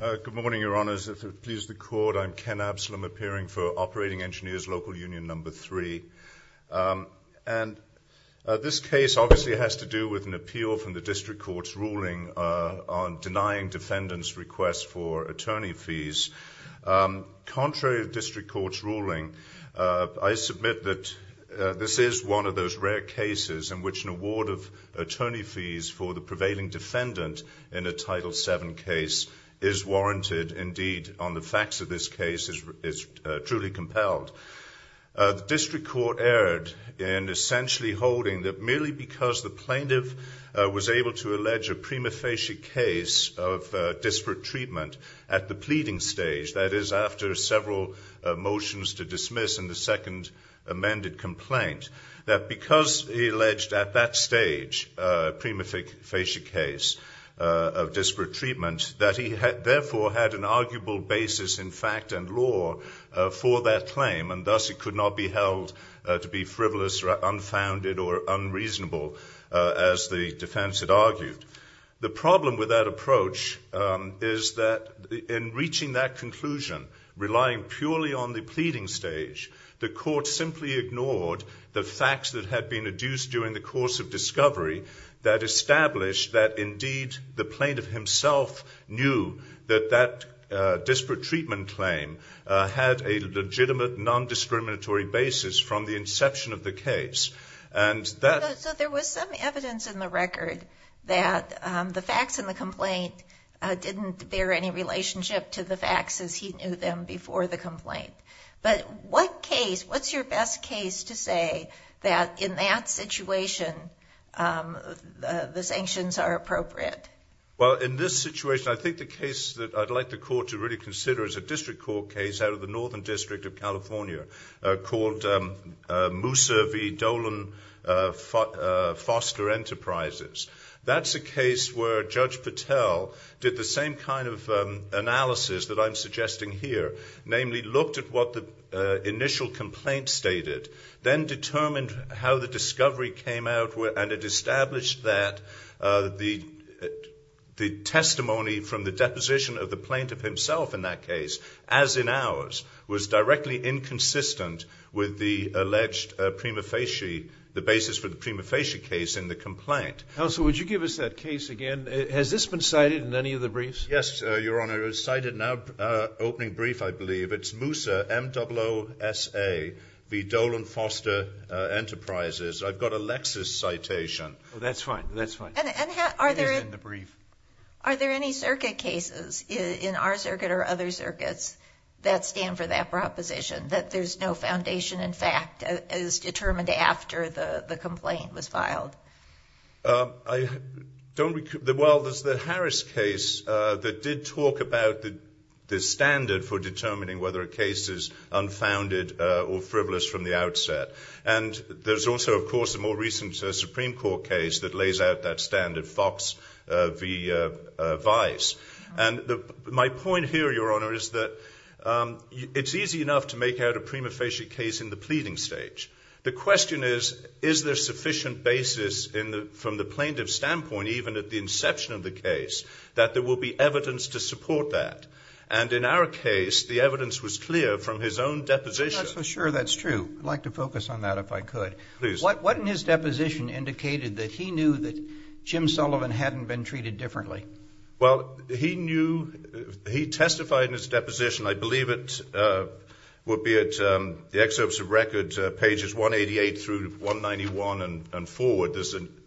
Good morning, Your Honours. If it pleases the Court, I'm Ken Absalom, appearing for Operating Engineers Local Union No. 3. And this case obviously has to do with an appeal from the District Court's ruling on denying defendants' requests for attorney fees. Contrary to the District Court's ruling, I submit that this is one of those rare cases in which an award of attorney fees for the prevailing defendant in a Title VII case is warranted. Indeed, on the facts of this case, it's truly compelled. The District Court erred in essentially holding that merely because the plaintiff was able to allege a prima facie case of disparate treatment at the pleading stage, that is, after several motions to dismiss and the second amended complaint, that because he alleged at that stage a prima facie case of disparate treatment, that he therefore had an arguable basis in fact and law for that claim, and thus he could not be held to be frivolous or unfounded or unreasonable, as the defense had argued. The problem with that approach is that in reaching that conclusion, relying purely on the pleading stage, the court simply ignored the facts that had been adduced during the course of discovery that established that indeed the plaintiff himself knew that that disparate treatment claim had a legitimate non-discriminatory basis from the inception of the case. So there was some evidence in the record that the facts in the complaint didn't bear any relationship to the facts as he knew them before the complaint. But what case, what's your best case to say that in that situation the sanctions are appropriate? Well, in this situation, I think the case that I'd like the court to really consider is a District Court case out of the Northern District of California called Moussa v. Dolan Foster Enterprises. That's a case where Judge Patel did the same kind of analysis that I'm suggesting here, namely looked at what the initial complaint stated, then determined how the discovery came out and it established that the testimony from the deposition of the plaintiff himself in that case, as in ours, was directly inconsistent with the alleged prima facie, the basis for the prima facie case in the complaint. Counsel, would you give us that case again? Has this been cited in any of the briefs? Yes, Your Honor. It was cited in our opening brief, I believe. It's Moussa, M-O-S-S-A v. Dolan Foster Enterprises. I've got Alexis' citation. That's fine. That's fine. It is in the brief. Are there any circuit cases in our circuit or other circuits that stand for that proposition, that there's no foundation in fact as determined after the complaint was filed? Well, there's the Harris case that did talk about the standard for determining whether a case is unfounded or frivolous from the outset. And there's also, of course, a more recent Supreme Court case that lays out that standard, Fox v. Vice. And my point here, Your Honor, is that it's easy enough to make out a prima facie case in the pleading stage. The question is, is there sufficient basis from the plaintiff's standpoint, even at the inception of the case, that there will be evidence to support that? And in our case, the evidence was clear from his own deposition. I'm not so sure that's true. I'd like to focus on that if I could. What in his deposition indicated that he knew that Jim Sullivan hadn't been treated differently? Well, he knew, he testified in his deposition, I believe it would be at the excerpts of records, pages 188 through 191 and forward.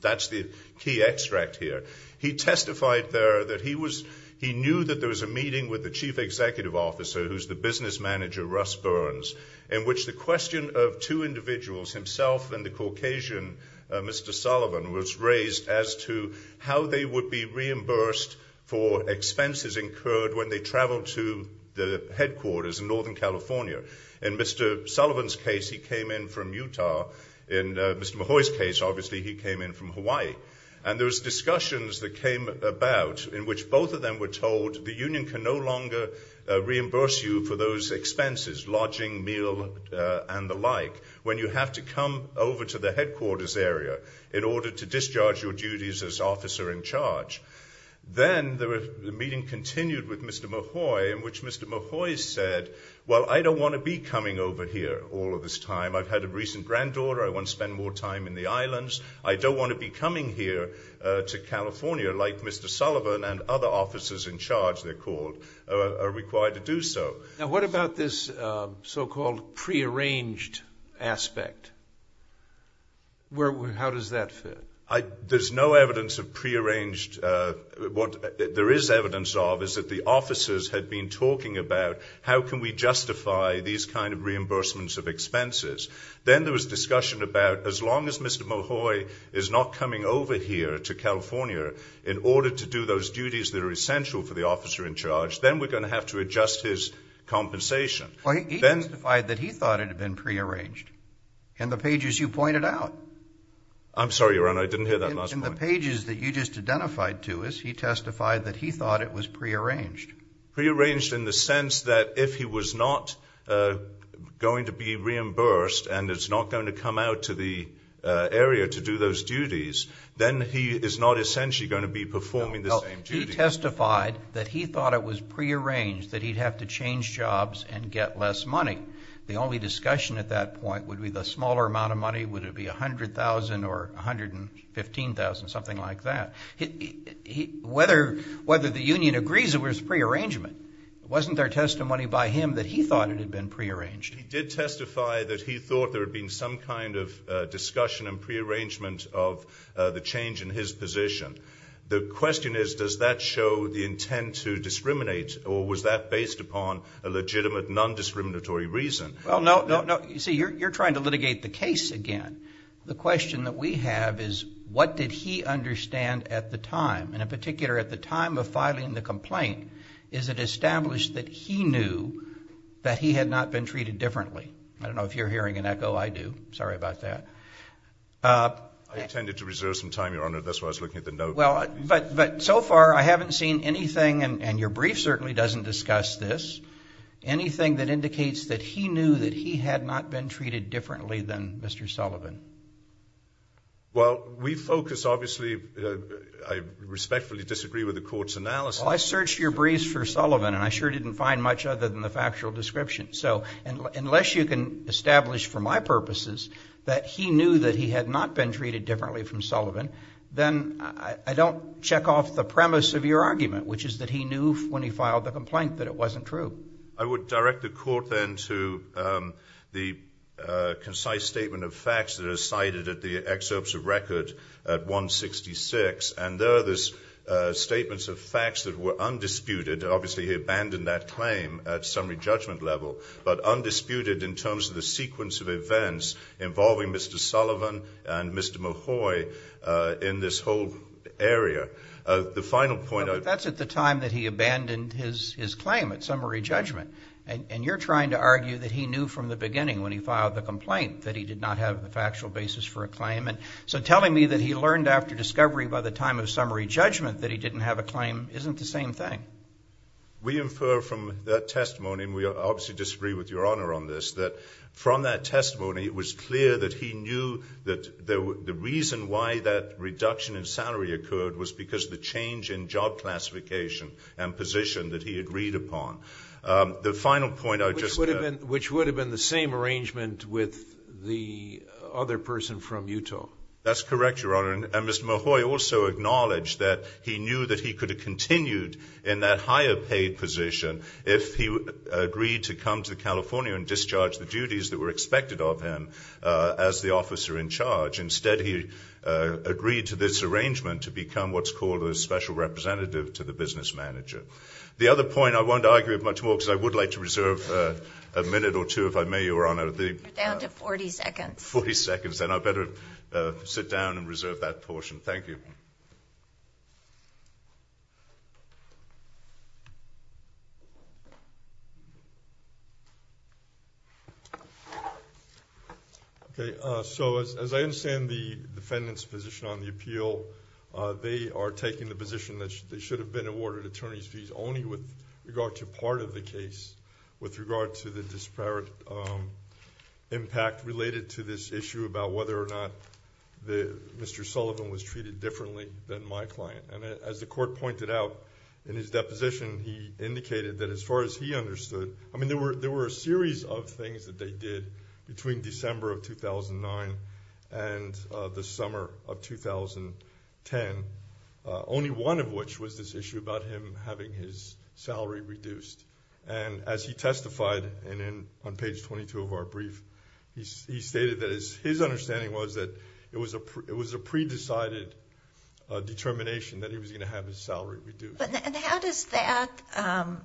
That's the key extract here. He testified there that he knew that there was a meeting with the chief executive officer, who's the business manager, Russ Burns, in which the question of two individuals, himself and the Caucasian, Mr. Sullivan, was raised as to how they would be reimbursed for expenses incurred when they traveled to the headquarters in Northern California. In Mr. Sullivan's case, he came in from Utah. In Mr. Mahoy's case, obviously, he came in from Hawaii. And there was discussions that came about in which both of them were told the union can no longer reimburse you for those expenses, lodging, meal, and the like, when you have to come over to the headquarters area in order to discharge your duties as officer in charge. Then the meeting continued with Mr. Mahoy, in which Mr. Mahoy said, well, I don't want to be coming over here all of this time. I've had a recent granddaughter. I don't want to be coming here to California like Mr. Sullivan and other officers in charge, they're called, are required to do so. Now, what about this so-called prearranged aspect? How does that fit? There's no evidence of prearranged. What there is evidence of is that the officers had been talking about how can we justify these kind of reimbursements of expenses. Then there was discussion about as long as Mr. Mahoy is not coming over here to California in order to do those duties that are essential for the officer in charge, then we're going to have to adjust his compensation. He testified that he thought it had been prearranged in the pages you pointed out. I'm sorry, Your Honor. I didn't hear that last point. In the pages that you just identified to us, he testified that he thought it was prearranged. Prearranged in the sense that if he was not going to be reimbursed and is not going to come out to the area to do those duties, then he is not essentially going to be performing the same duties. He testified that he thought it was prearranged, that he'd have to change jobs and get less money. The only discussion at that point would be the smaller amount of money, would it be $100,000 or $115,000, something like that. Whether the union agrees it was prearrangement, it wasn't their testimony by him that he thought it had been prearranged. He did testify that he thought there had been some kind of discussion and prearrangement of the change in his position. The question is, does that show the intent to discriminate or was that based upon a legitimate non-discriminatory reason? Well, no, no, no. You see, you're trying to litigate the case again. The question that we have is, what did he understand at the time? And in particular, at the time of filing the complaint, is it established that he knew that he had not been treated differently? I don't know if you're hearing an echo. I do. Sorry about that. I intended to reserve some time, Your Honor. That's why I was looking at the note. Well, but so far I haven't seen anything, and your brief certainly doesn't discuss this, anything that indicates that he knew that he had not been treated differently than Mr. Sullivan. Well, we focus, obviously, I respectfully disagree with the court's analysis. Well, I searched your briefs for Sullivan, and I sure didn't find much other than the factual description. So unless you can establish for my purposes that he knew that he had not been treated differently from Sullivan, then I don't check off the premise of your argument, which is that he knew when he filed the complaint that it wasn't true. I would direct the court then to the concise statement of facts that are cited at the excerpts of record at 166, and there are these statements of facts that were undisputed. Obviously, he abandoned that claim at summary judgment level, but undisputed in terms of the sequence of events involving Mr. Sullivan and Mr. Mahoy in this whole area. The final point I would make. But that's at the time that he abandoned his claim at summary judgment, and you're trying to argue that he knew from the beginning when he filed the complaint that he did not have a factual basis for a claim. And so telling me that he learned after discovery by the time of summary judgment that he didn't have a claim isn't the same thing. We infer from that testimony, and we obviously disagree with Your Honor on this, that from that testimony it was clear that he knew that the reason why that reduction in salary occurred was because of the change in job classification and position that he agreed upon. The final point I would just add. Which would have been the same arrangement with the other person from Utah. That's correct, Your Honor. And Mr. Mahoy also acknowledged that he knew that he could have continued in that higher paid position if he agreed to come to California and discharge the duties that were expected of him as the officer in charge. Instead, he agreed to this arrangement to become what's called a special representative to the business manager. The other point, I won't argue it much more because I would like to reserve a minute or two, if I may, Your Honor. You're down to 40 seconds. 40 seconds, and I better sit down and reserve that portion. Thank you. Okay, so as I understand the defendant's position on the appeal, they are taking the position that they should have been awarded attorney's fees only with regard to part of the case. With regard to the disparate impact related to this issue about whether or not Mr. Sullivan was treated differently than my client. And as the court pointed out in his deposition, he indicated that as far as he understood, I mean there were a series of things that they did between December of 2009 and the summer of 2010. Only one of which was this issue about him having his salary reduced. And as he testified on page 22 of our brief, he stated that his understanding was that it was a pre-decided determination that he was going to have his salary reduced. And how does that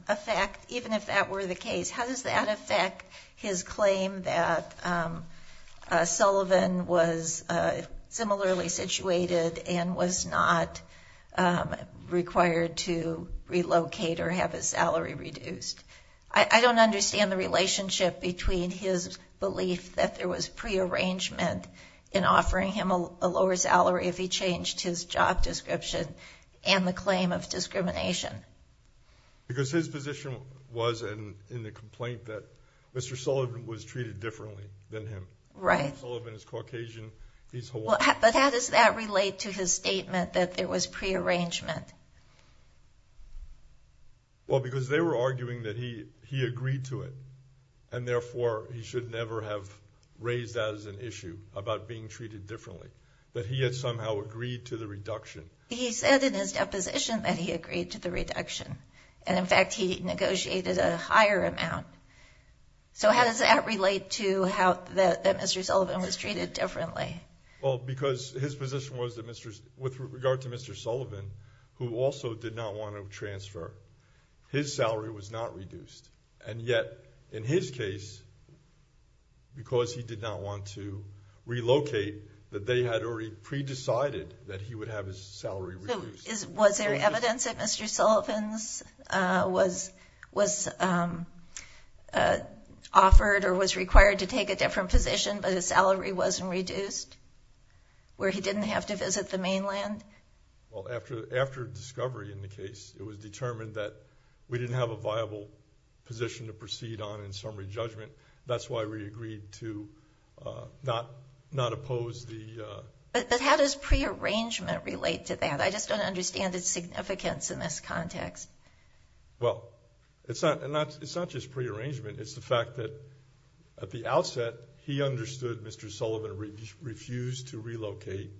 affect, even if that were the case, how does that affect his claim that Sullivan was similarly situated and was not required to relocate or have his salary reduced? I don't understand the relationship between his belief that there was prearrangement in offering him a lower salary if he changed his job description and the claim of discrimination. Because his position was in the complaint that Mr. Sullivan was treated differently than him. Right. Sullivan is Caucasian, he's Hawaiian. But how does that relate to his statement that there was prearrangement? Well, because they were arguing that he agreed to it, and therefore he should never have raised that as an issue about being treated differently. But he had somehow agreed to the reduction. He said in his deposition that he agreed to the reduction. And, in fact, he negotiated a higher amount. So how does that relate to how Mr. Sullivan was treated differently? Well, because his position was that with regard to Mr. Sullivan, who also did not want to transfer, his salary was not reduced. And yet, in his case, because he did not want to relocate, that they had already pre-decided that he would have his salary reduced. So was there evidence that Mr. Sullivan was offered or was required to take a different position, but his salary wasn't reduced, where he didn't have to visit the mainland? Well, after discovery in the case, it was determined that we didn't have a viable position to proceed on in summary judgment. That's why we agreed to not oppose the... But how does prearrangement relate to that? I just don't understand its significance in this context. Well, it's not just prearrangement. It's the fact that, at the outset, he understood Mr. Sullivan refused to relocate,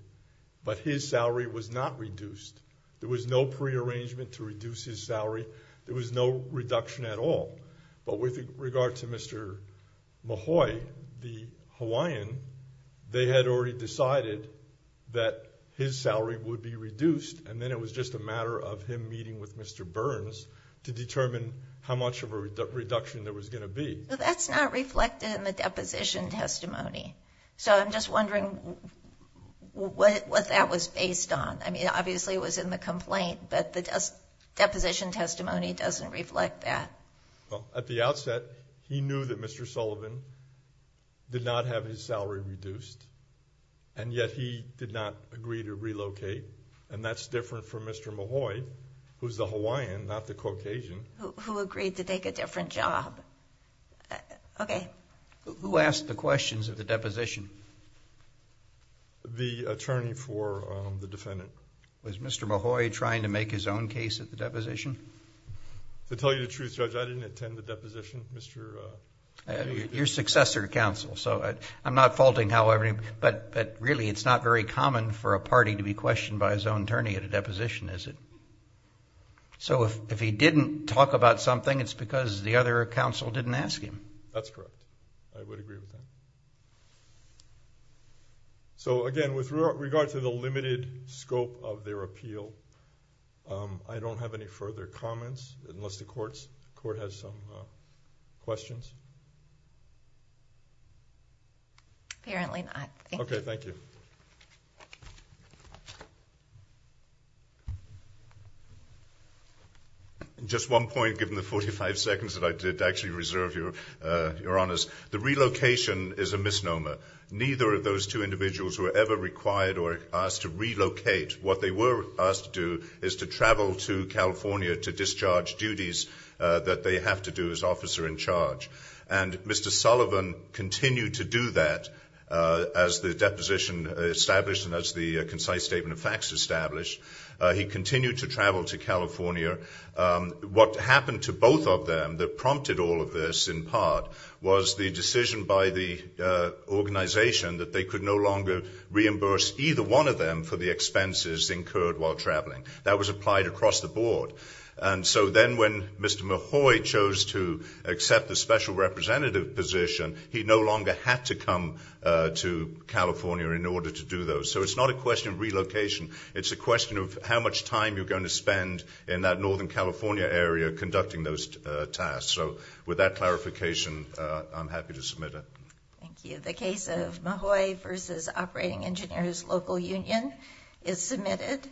but his salary was not reduced. There was no prearrangement to reduce his salary. There was no reduction at all. But with regard to Mr. Mahoy, the Hawaiian, they had already decided that his salary would be reduced, and then it was just a matter of him meeting with Mr. Burns to determine how much of a reduction there was going to be. That's not reflected in the deposition testimony. So I'm just wondering what that was based on. I mean, obviously it was in the complaint, but the deposition testimony doesn't reflect that. Well, at the outset, he knew that Mr. Sullivan did not have his salary reduced, and yet he did not agree to relocate, and that's different from Mr. Mahoy, who's the Hawaiian, not the Caucasian. Who agreed to take a different job. Okay. Who asked the questions of the deposition? The attorney for the defendant. Was Mr. Mahoy trying to make his own case at the deposition? To tell you the truth, Judge, I didn't attend the deposition. You're successor to counsel, so I'm not faulting however, but really it's not very common for a party to be questioned by his own attorney at a deposition, is it? So if he didn't talk about something, it's because the other counsel didn't ask him. That's correct. I would agree with that. So, again, with regard to the limited scope of their appeal, I don't have any further comments unless the court has some questions. Apparently not. Okay. Thank you. Just one point, given the 45 seconds that I did actually reserve your honors. The relocation is a misnomer. Neither of those two individuals were ever required or asked to relocate. What they were asked to do is to travel to California to discharge duties that they have to do as officer in charge. And Mr. Sullivan continued to do that as the deposition established and as the concise statement of facts established. He continued to travel to California. What happened to both of them that prompted all of this in part was the decision by the organization that they could no longer reimburse either one of them for the expenses incurred while traveling. That was applied across the board. And so then when Mr. Mahoy chose to accept the special representative position, he no longer had to come to California in order to do those. So it's not a question of relocation. It's a question of how much time you're going to spend in that northern California area conducting those tasks. So with that clarification, I'm happy to submit it. Thank you. The case of Mahoy v. Operating Engineers Local Union is submitted.